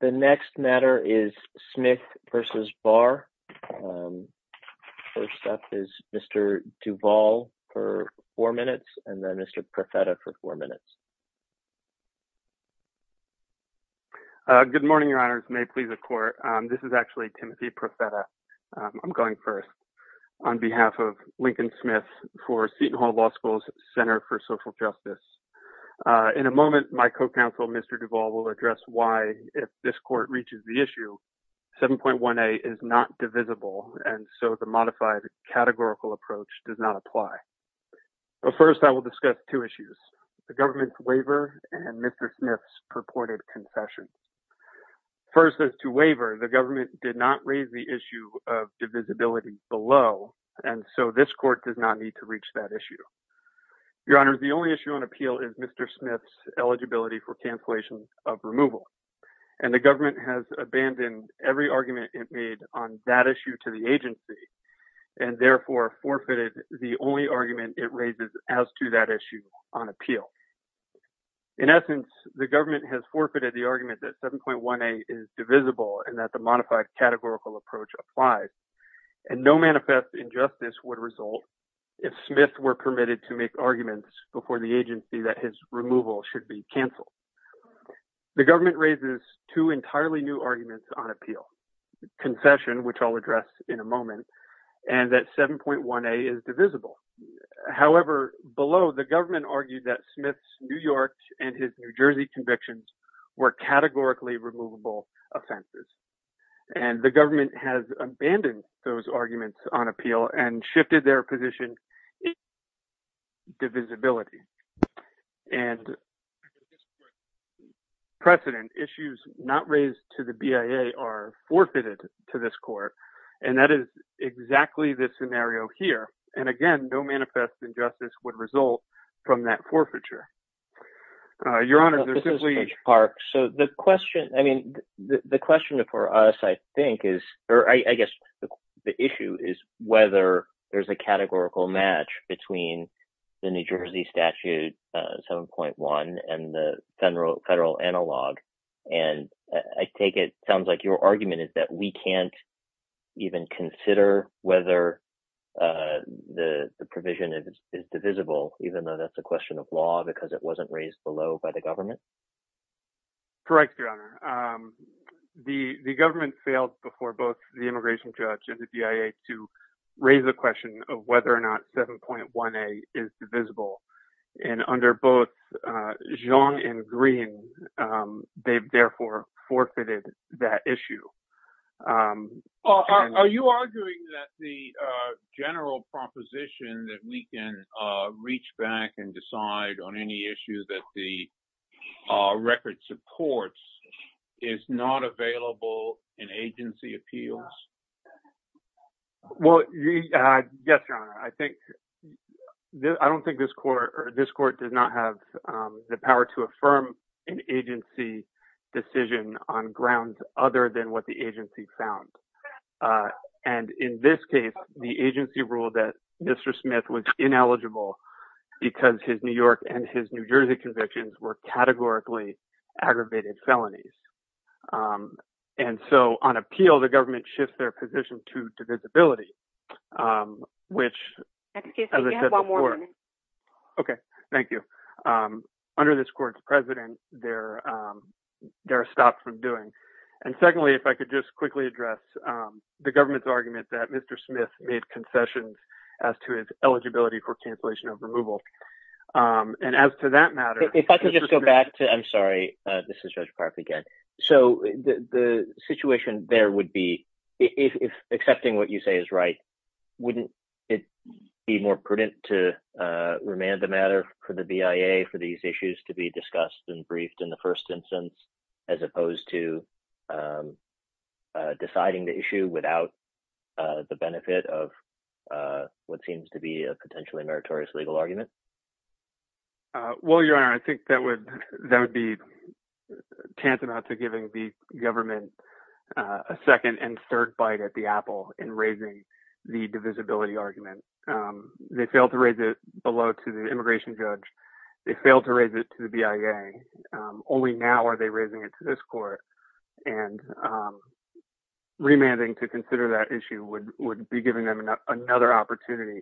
The next matter is Smith v. Barr. First up is Mr. Duvall for four minutes, and then Mr. Profeta for four minutes. Good morning, Your Honors. May it please the Court. This is actually Timothy Profeta. I'm going first on behalf of Lincoln Smith for Seton Hall Law School's Center for Social Justice. In a moment, my co-counsel, Mr. Duvall, will address why, if this Court reaches the issue, 7.1a is not divisible, and so the modified categorical approach does not apply. But first, I will discuss two issues, the government's waiver and Mr. Smith's purported confession. First, as to waiver, the government did not raise the issue of divisibility below, and so this Court does not need to reach that issue. Your Honors, the only issue on appeal is Mr. Smith's eligibility for cancellation of removal, and the government has abandoned every argument it made on that issue to the agency, and therefore forfeited the only argument it raises as to that issue on appeal. In essence, the government has forfeited the argument that 7.1a is divisible and that the modified categorical approach applies, and no manifest injustice would result if Smith were permitted to make arguments before the agency that his removal should be canceled. The government raises two entirely new arguments on appeal, confession, which I'll address in a moment, and that 7.1a is divisible. However, below, the government argued that Smith's New York and his New Jersey convictions were categorically removable offenses, and the government has abandoned those arguments on appeal and shifted their position in favor of divisibility. And for this Court's precedent, issues not raised to the BIA are forfeited to this Court, and that is exactly the scenario here, and again, no manifest injustice would result from that forfeiture. Your Honor, there's simply – Judge Park, so the question – I mean, the question for us, I think, is – or I guess the issue is whether there's a categorical match between the New Jersey statute 7.1 and the federal analog, and I take it – sounds like your argument is that we can't even consider whether the provision is divisible, even though that's a question of law, because it wasn't raised below by the government? Correct, Your Honor. The government failed before both the immigration judge and the BIA to raise the question of whether or not 7.1a is divisible, and under both Xiong and Green, they've therefore forfeited that issue. Are you arguing that the general proposition that we can reach back and decide on any issue that the record supports is not available in agency appeals? Well, yes, Your Honor. I think – I don't think this Court – or this Court does not have the power to affirm an agency decision on grounds other than what the agency found, and in this case, the agency ruled that Mr. Smith was ineligible because his New York and his New Jersey convictions were categorically aggravated felonies, and so on appeal, the government shifts their position to divisibility, which, as I said before – Excuse me. You have one more minute. Okay. Thank you. Under this Court's precedent, they're stopped from doing. And secondly, if I could just quickly address the government's argument that Mr. Smith made concessions as to his eligibility for cancellation of removal, and as to that matter – If I could just go back to – I'm sorry. This is Judge Park again. So the situation there would be – if accepting what you say is right, wouldn't it be more prudent to remand the matter for the BIA for these issues to be discussed and briefed in the first instance, as opposed to deciding the issue without the benefit of what seems to be a potentially meritorious legal argument? Well, Your Honor, I think that would be tantamount to giving the government a second and third bite at the apple in raising the divisibility argument. They failed to raise it below to the immigration judge. They failed to raise it to the BIA. Only now are they raising it to this Court, and remanding to consider that issue would be giving them another opportunity.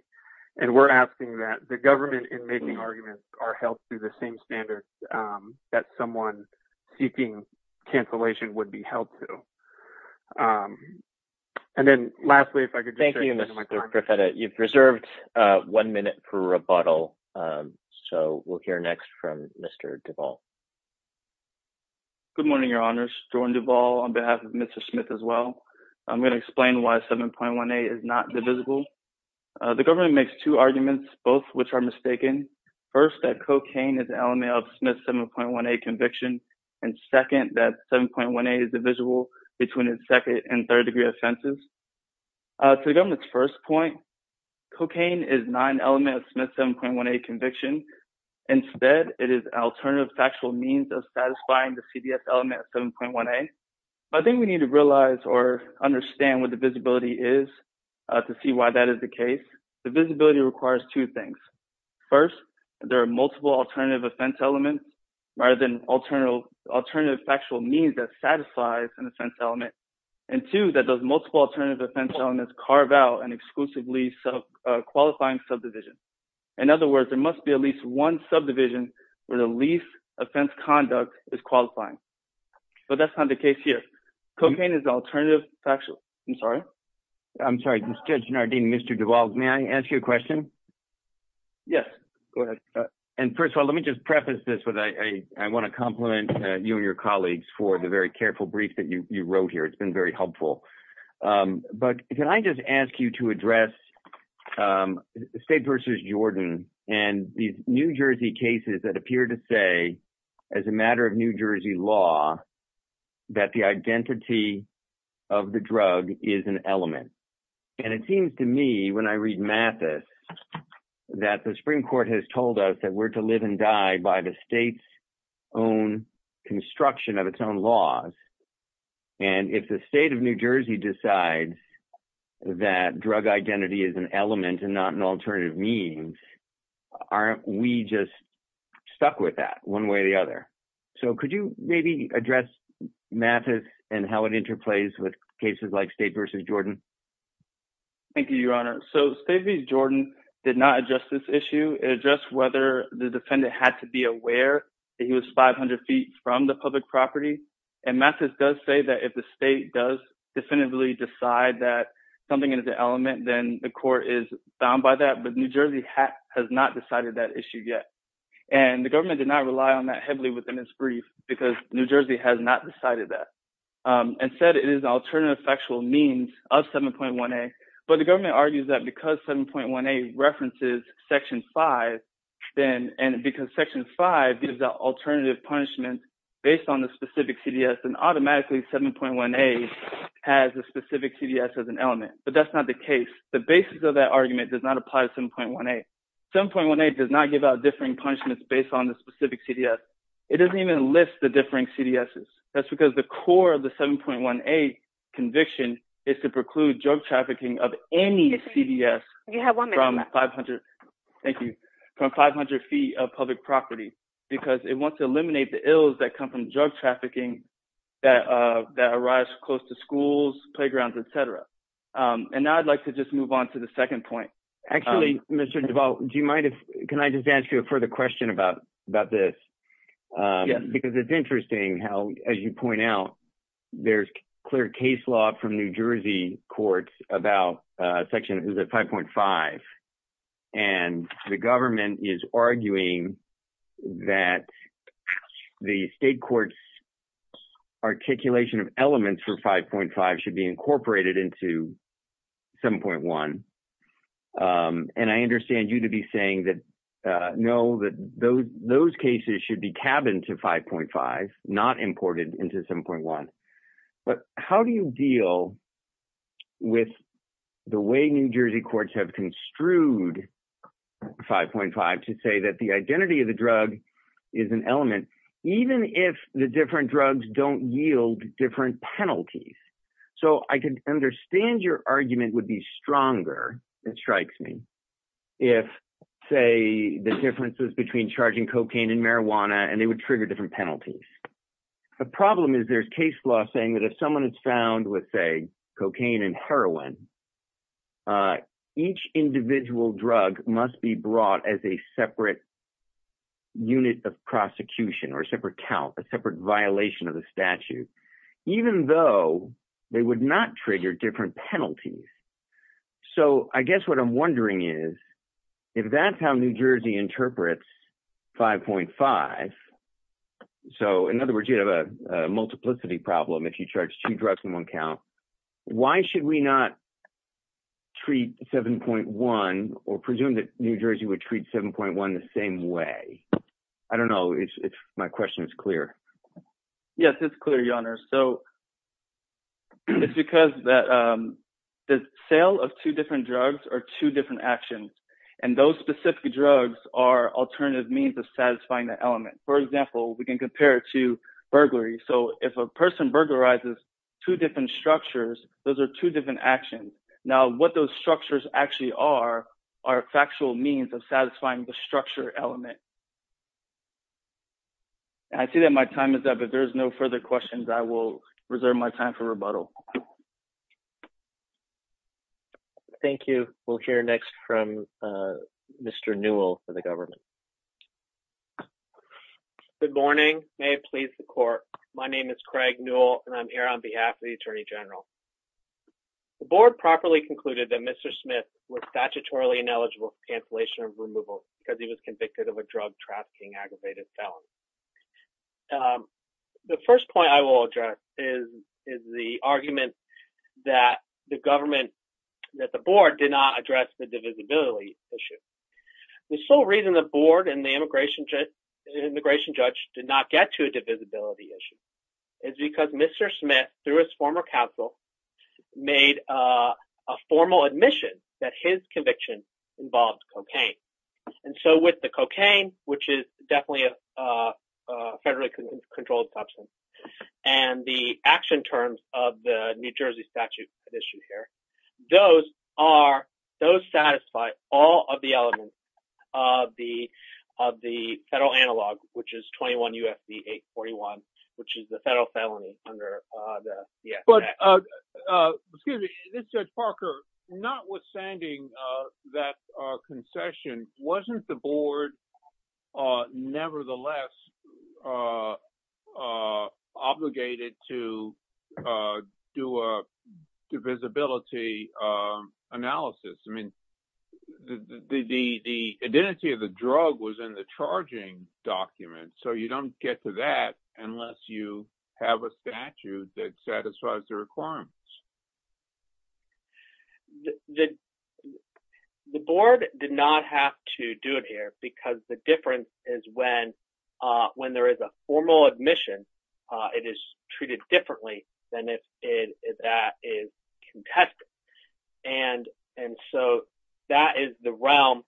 And we're asking that the government in making arguments are held to the same standards that someone seeking cancellation would be held to. And then lastly, if I could just – Thank you, Mr. Profeta. You've reserved one minute for rebuttal, so we'll hear next from Mr. Duval. Good morning, Your Honors. Jordan Duval on behalf of Mr. Smith as well. I'm going to explain why 7.18 is not divisible. The government makes two arguments, both of which are mistaken. First, that cocaine is an element of Smith's 7.18 conviction. And second, that 7.18 is divisible between its second and third degree offenses. To the government's first point, cocaine is not an element of Smith's 7.18 conviction. Instead, it is an alternative factual means of satisfying the CBS element of 7.18. I think we need to realize or understand what the visibility is to see why that is the case. The visibility requires two things. First, there are multiple alternative offense elements rather than alternative factual means that satisfies an offense element. And two, that those multiple alternative offense elements carve out an exclusively qualifying subdivision. In other words, there must be at least one subdivision where the least offense conduct is qualifying. But that's not the case here. Cocaine is alternative factual. I'm sorry. I'm sorry. Judge Nardin, Mr. Duval, may I ask you a question? Yes. Go ahead. And first of all, let me just preface this with I want to compliment you and your colleagues for the very careful brief that you wrote here. It's been very helpful. But can I just ask you to address the state versus Jordan and the New Jersey cases that appear to say as a matter of New Jersey law that the identity of the drug is an element. And it seems to me when I read Mathis that the Supreme Court has told us that we're to live and die by the state's own construction of its own laws. And if the state of New Jersey decides that drug identity is an element and not an alternative means, aren't we just stuck with that one way or the other? So could you maybe address Mathis and how it interplays with cases like state versus Jordan? Thank you, Your Honor. So state versus Jordan did not address this issue. It addressed whether the defendant had to be aware that he was 500 feet from the public property. And Mathis does say that if the state does definitively decide that something is an element, then the court is bound by that. But New Jersey has not decided that issue yet. And the government did not rely on that heavily within its brief because New Jersey has not decided that. Instead, it is an alternative factual means of 7.1a. But the government argues that because 7.1a references Section 5, then – and because Section 5 gives out alternative punishments based on the specific CDS, then automatically 7.1a has a specific CDS as an element. But that's not the case. The basis of that argument does not apply to 7.1a. 7.1a does not give out differing punishments based on the specific CDS. It doesn't even list the differing CDSs. That's because the core of the 7.1a conviction is to preclude drug trafficking of any CDS from 500 feet of public property because it wants to eliminate the ills that come from drug trafficking that arise close to schools, playgrounds, etc. And now I'd like to just move on to the second point. Actually, Mr. Duval, do you mind if – can I just ask you a further question about this? Yes. Because it's interesting how, as you point out, there's clear case law from New Jersey courts about Section 5.5. And the government is arguing that the state court's articulation of elements for 5.5 should be incorporated into 7.1. And I understand you to be saying that, no, that those cases should be cabined to 5.5, not imported into 7.1. But how do you deal with the way New Jersey courts have construed 5.5 to say that the identity of the drug is an element even if the different drugs don't yield different penalties? So I can understand your argument would be stronger, it strikes me, if, say, the differences between charging cocaine and marijuana and they would trigger different penalties. The problem is there's case law saying that if someone is found with, say, cocaine and heroin, each individual drug must be brought as a separate unit of prosecution or a separate count, a separate violation of the statute. Even though they would not trigger different penalties. So I guess what I'm wondering is if that's how New Jersey interprets 5.5, so in other words, you have a multiplicity problem if you charge two drugs in one count. Why should we not treat 7.1 or presume that New Jersey would treat 7.1 the same way? I don't know if my question is clear. Yes, it's clear, Your Honor. So it's because the sale of two different drugs are two different actions, and those specific drugs are alternative means of satisfying that element. For example, we can compare it to burglary. So if a person burglarizes two different structures, those are two different actions. Now, what those structures actually are are factual means of satisfying the structure element. I see that my time is up. If there's no further questions, I will reserve my time for rebuttal. Thank you. We'll hear next from Mr. Newell for the government. Good morning. May it please the court. My name is Craig Newell, and I'm here on behalf of the Attorney General. The board properly concluded that Mr. Smith was statutorily ineligible for cancellation of removal because he was convicted of a drug trafficking aggravated felony. The first point I will address is the argument that the board did not address the divisibility issue. The sole reason the board and the immigration judge did not get to a divisibility issue is because Mr. Smith, through his former counsel, made a formal admission that his conviction involved cocaine. And so with the cocaine, which is definitely a federally controlled substance, and the action terms of the New Jersey statute issue here, those satisfy all of the elements of the federal analog, which is 21 U.S.C. 841, which is the federal felony under the FAA. Excuse me. This is Judge Parker. Notwithstanding that concession, wasn't the board nevertheless obligated to do a divisibility analysis? I mean, the identity of the drug was in the charging document, so you don't get to that unless you have a statute that satisfies the requirements. The board did not have to do it here because the difference is when there is a formal admission, it is treated differently than if that is contested. And so that is the realm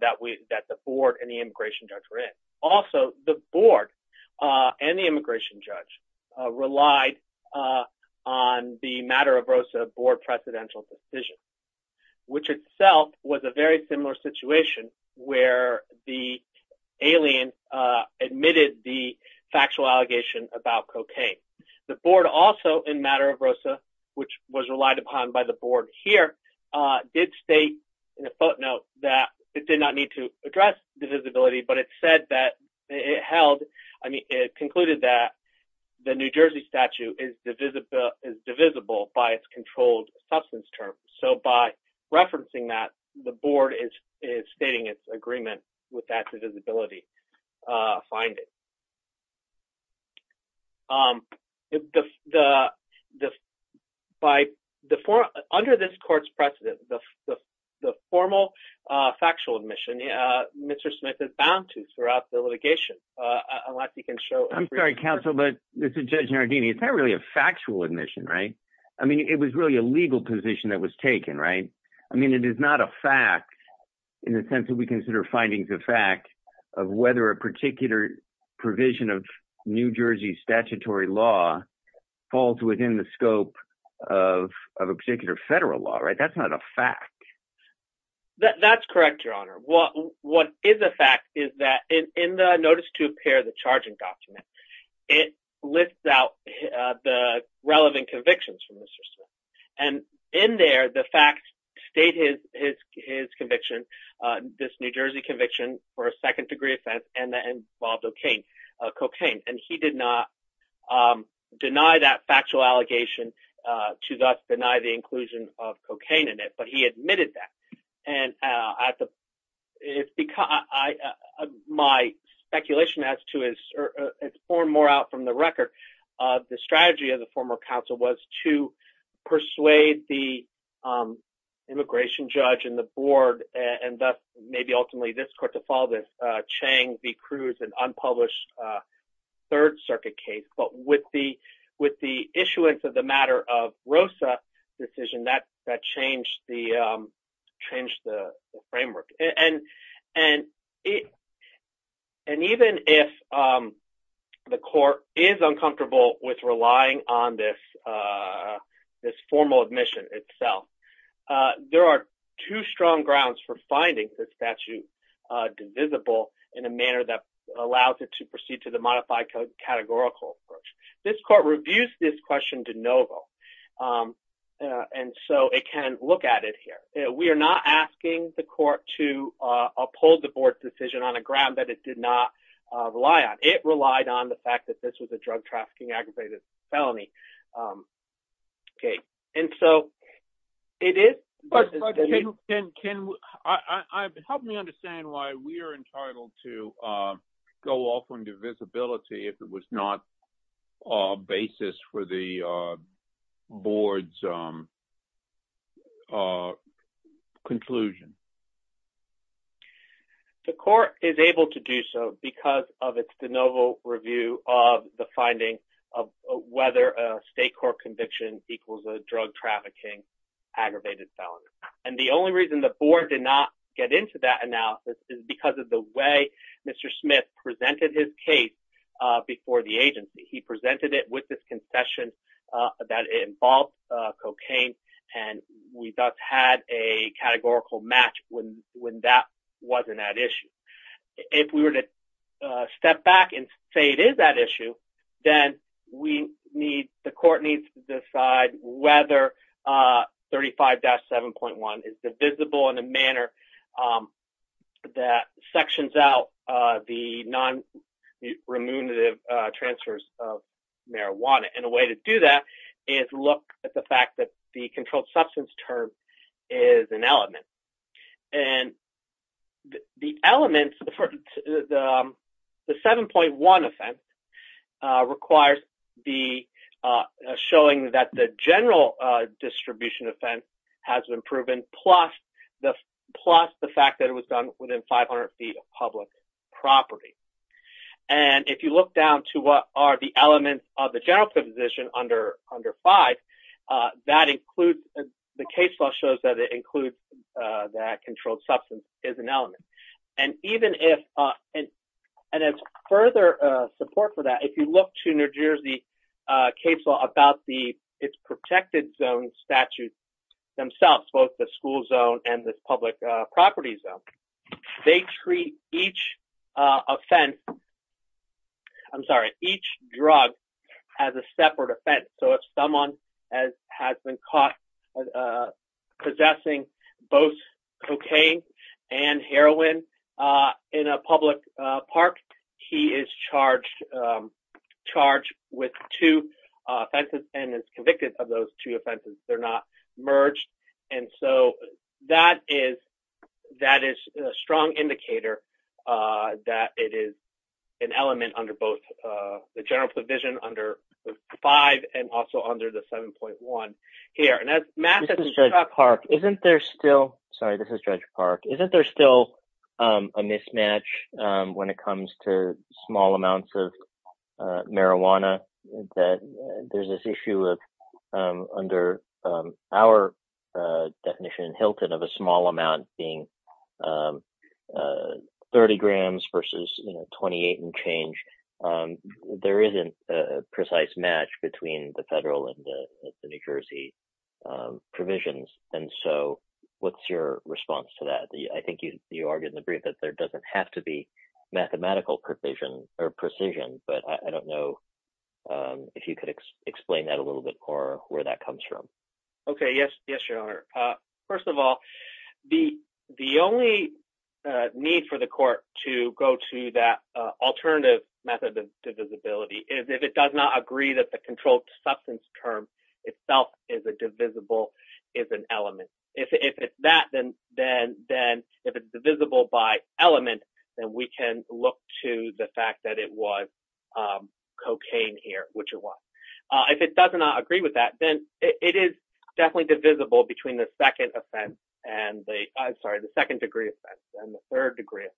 that the board and the immigration judge were in. Also, the board and the immigration judge relied on the Matter of ROSA board precedential decision, which itself was a very similar situation where the alien admitted the factual allegation about cocaine. The board also, in Matter of ROSA, which was relied upon by the board here, did state in a footnote that it did not need to address divisibility, but it said that it held, I mean, it concluded that the New Jersey statute is divisible by its controlled substance terms. So by referencing that, the board is stating its agreement with that divisibility finding. Under this court's precedent, the formal factual admission, Mr. Smith is bound to throughout the litigation. I'm sorry, counsel, but this is Judge Nardini. It's not really a factual admission, right? I mean, it was really a legal position that was taken, right? I mean, it is not a fact in the sense that we consider findings of fact of whether a particular provision of New Jersey statutory law falls within the scope of a particular federal law, right? That's not a fact. That's correct, Your Honor. What is a fact is that in the Notice to Appear, the charging document, it lists out the relevant convictions from Mr. Smith. And in there, the facts state his conviction, this New Jersey conviction for a second degree offense, and that involved cocaine. And he did not deny that factual allegation to thus deny the inclusion of cocaine in it, but he admitted that. And my speculation as to his form more out from the record, the strategy of the former counsel was to persuade the immigration judge and the board and thus maybe ultimately this court to follow this Chang v. Cruz Third Circuit case. But with the issuance of the matter of Rosa decision, that changed the framework. And even if the court is uncomfortable with relying on this formal admission itself, there are two strong grounds for finding the statute divisible in a manner that allows it to proceed to the modified categorical approach. This court reviews this question de novo. And so it can look at it here. We are not asking the court to uphold the board's decision on a ground that it did not rely on. It relied on the fact that this was a drug trafficking aggravated felony. OK. And so it is. But can I help me understand why we are entitled to go off on divisibility if it was not a basis for the board's conclusion? The court is able to do so because of its de novo review of the finding of whether a state court conviction equals a drug trafficking aggravated felony. And the only reason the board did not get into that analysis is because of the way Mr. Smith presented his case before the agency. He presented it with this concession that involves cocaine. And we just had a categorical match when that wasn't that issue. If we were to step back and say it is that issue, then the court needs to decide whether 35-7.1 is divisible in a manner that sections out the non-remunerative transfers of marijuana. And a way to do that is look at the fact that the controlled substance term is an element. And the element for the 7.1 offense requires showing that the general distribution offense has been proven plus the fact that it was done within 500 feet of public property. And if you look down to what are the elements of the general position under 5, the case law shows that it includes that controlled substance is an element. And as further support for that, if you look to New Jersey case law about its protected zone statutes themselves, both the school zone and the public property zone, they treat each offense, I'm sorry, each drug as a separate offense. So if someone has been caught possessing both cocaine and heroin in a public park, he is charged with two offenses and is convicted of those two offenses. They're not merged. And so that is a strong indicator that it is an element under both the general provision under 5 and also under the 7.1 here. This is Judge Park. Isn't there still a mismatch when it comes to small amounts of marijuana that there's this issue of under our definition in Hilton of a small amount being 30 grams versus 28 and change. There isn't a precise match between the federal and the New Jersey provisions. And so what's your response to that? I think you argued in the brief that there doesn't have to be mathematical provision or precision, but I don't know if you could explain that a little bit more where that comes from. OK, yes. Yes, Your Honor. First of all, the only need for the court to go to that alternative method of divisibility is if it does not agree that the controlled substance term itself is a divisible, is an element. If it's that, then if it's divisible by element, then we can look to the fact that it was cocaine here, which it was. If it does not agree with that, then it is definitely divisible between the second degree offense and the third degree offense.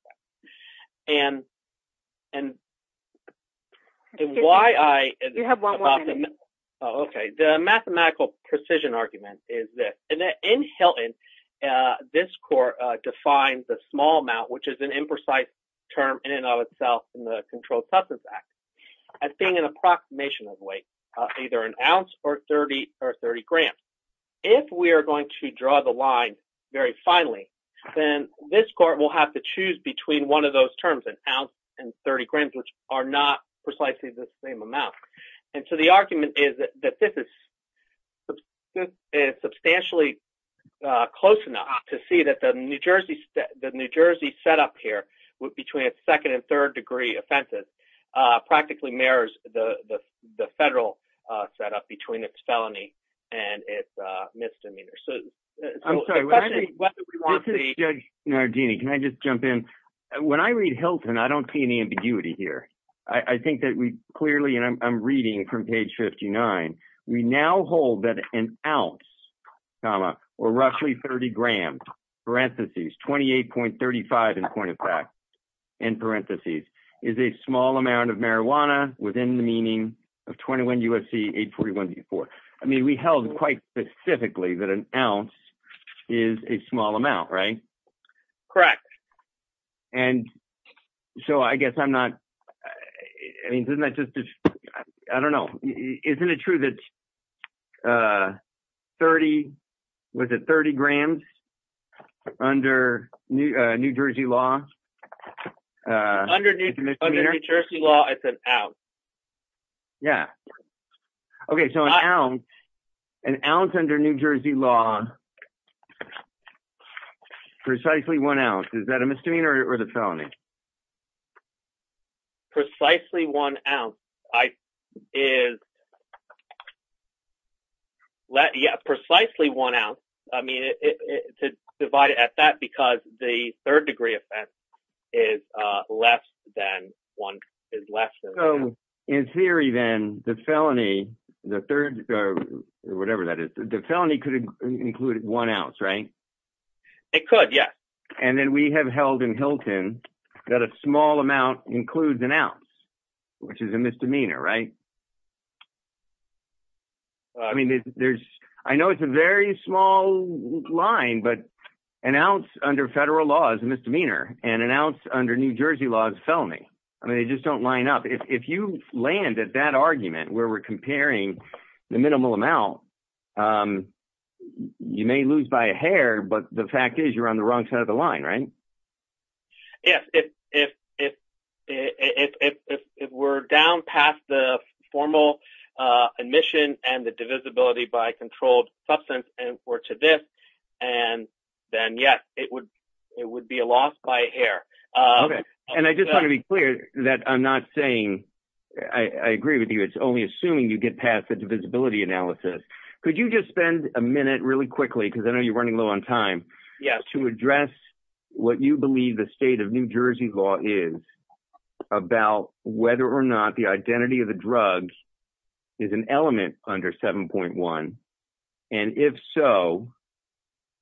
OK, the mathematical precision argument is that in Hilton, this court defines a small amount, which is an imprecise term in and of itself in the Controlled Substance Act as being an approximation of weight, either an ounce or 30 or 30 grams. If we are going to draw the line very finely, then this court will have to choose between one of those terms, an ounce and 30 grams, which are not precisely the same amount. And so the argument is that this is misdemeanor. So I'm sorry. What do we want to do? Can I just jump in? When I read Hilton, I don't see any ambiguity here. I think that we clearly I'm reading from page fifty nine. I mean, we held quite specifically that an ounce is a small amount, right? Correct. And so I guess I'm not I mean, isn't that just I don't know. Isn't it true that 30, was it 30 grams under New Jersey law? Under New Jersey law, it's an ounce. Yeah. OK, so an ounce under New Jersey law, precisely one ounce. Is that a misdemeanor or the felony? Precisely one ounce. I is. Yeah, precisely one ounce. I mean, to divide it at that, because the third degree offense is less than one is less. So in theory, then the felony, the third or whatever that is, the felony could include one ounce, right? It could. Yeah. And then we have held in Hilton that a small amount includes an ounce, which is a misdemeanor, right? I mean, there's I know it's a very small line, but an ounce under federal law is a misdemeanor and an ounce under New Jersey law is felony. I mean, they just don't line up. If you land at that argument where we're comparing the minimal amount, you may lose by a hair. But the fact is you're on the wrong side of the line, right? Yes. If if if if if we're down past the formal admission and the divisibility by controlled substance and we're to this and then, yes, it would it would be a loss by a hair. And I just want to be clear that I'm not saying I agree with you. It's only assuming you get past the divisibility analysis. Could you just spend a minute really quickly? Because I know you're running low on time to address what you believe the state of New Jersey law is about whether or not the identity of the drug is an element under seven point one. And if so,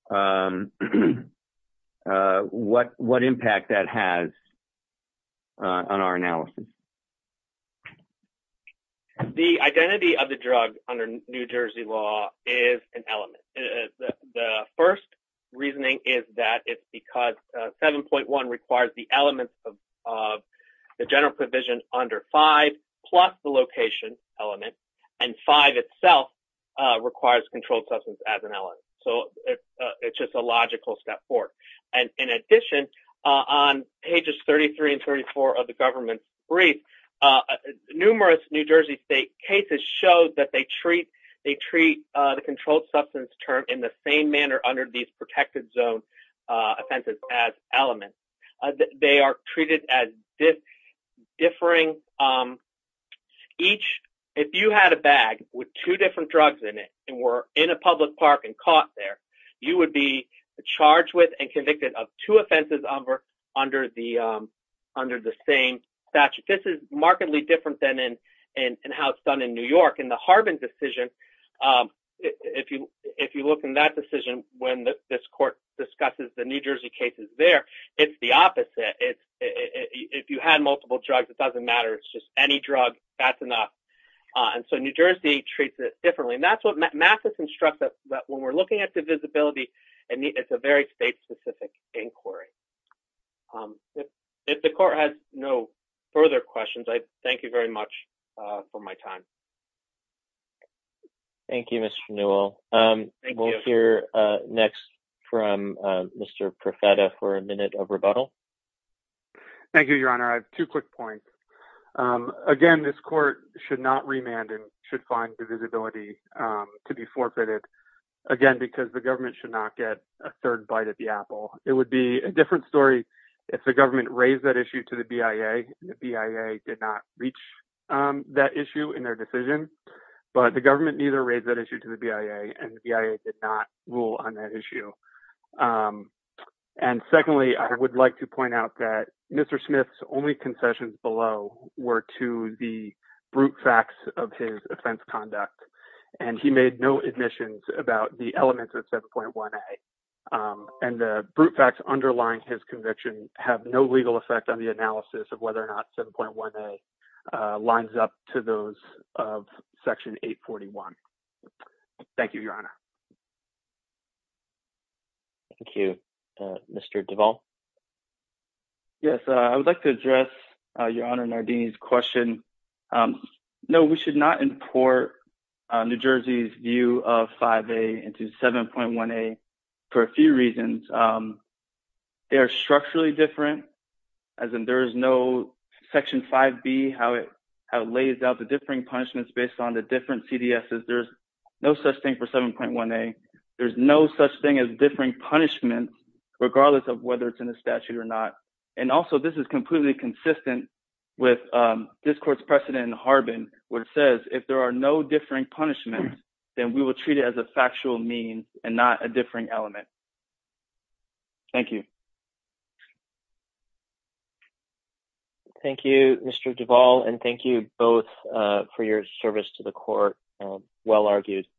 what what impact that has on our analysis? The identity of the drug under New Jersey law is an element. The first reasoning is that it's because seven point one requires the elements of the general provision under five plus the location element and five itself requires controlled substance as an element. So it's just a logical step forward. And in addition, on pages thirty three and thirty four of the government brief, numerous New Jersey state cases show that they treat they treat the controlled substance term in the same manner under these protected zone offenses as elements. They are treated as this differing each. If you had a bag with two different drugs in it and were in a public park and caught there, you would be charged with and convicted of two offenses over under the under the same statute. This is markedly different than in and how it's done in New York in the Harbin decision. If you if you look in that decision, when this court discusses the New Jersey cases there, it's the opposite. If you had multiple drugs, it doesn't matter. It's just any drug. That's enough. And so New Jersey treats it differently. And that's what Matthews instructs us that when we're looking at the visibility and it's a very state specific inquiry. If the court has no further questions, I thank you very much for my time. Thank you, Mr. Newell. We'll hear next from Mr. Profeta for a minute of rebuttal. Thank you, Your Honor. I have two quick points. Again, this court should not remand and should find the visibility to be forfeited again because the government should not get a third bite at the apple. It would be a different story if the government raised that issue to the BIA. The BIA did not reach that issue in their decision, but the government neither raised that issue to the BIA and BIA did not rule on that issue. And secondly, I would like to point out that Mr. Smith's only concessions below were to the brute facts of his offense conduct, and he made no admissions about the elements of 7.1a. And the brute facts underlying his conviction have no legal effect on the analysis of whether or not 7.1a lines up to those of Section 841. Thank you, Your Honor. Thank you. Mr. Duvall? Yes, I would like to address Your Honor Nardini's question. No, we should not import New Jersey's view of 5a into 7.1a for a few reasons. They are structurally different, as in there is no Section 5b, how it lays out the differing punishments based on the different CDSs. There's no such thing for 7.1a. There's no such thing as differing punishment, regardless of whether it's in the statute or not. And also, this is completely consistent with this court's precedent in Harbin, where it says if there are no differing punishments, then we will treat it as a factual mean and not a differing element. Thank you. Thank you, Mr. Duvall, and thank you both for your service to the court, well argued.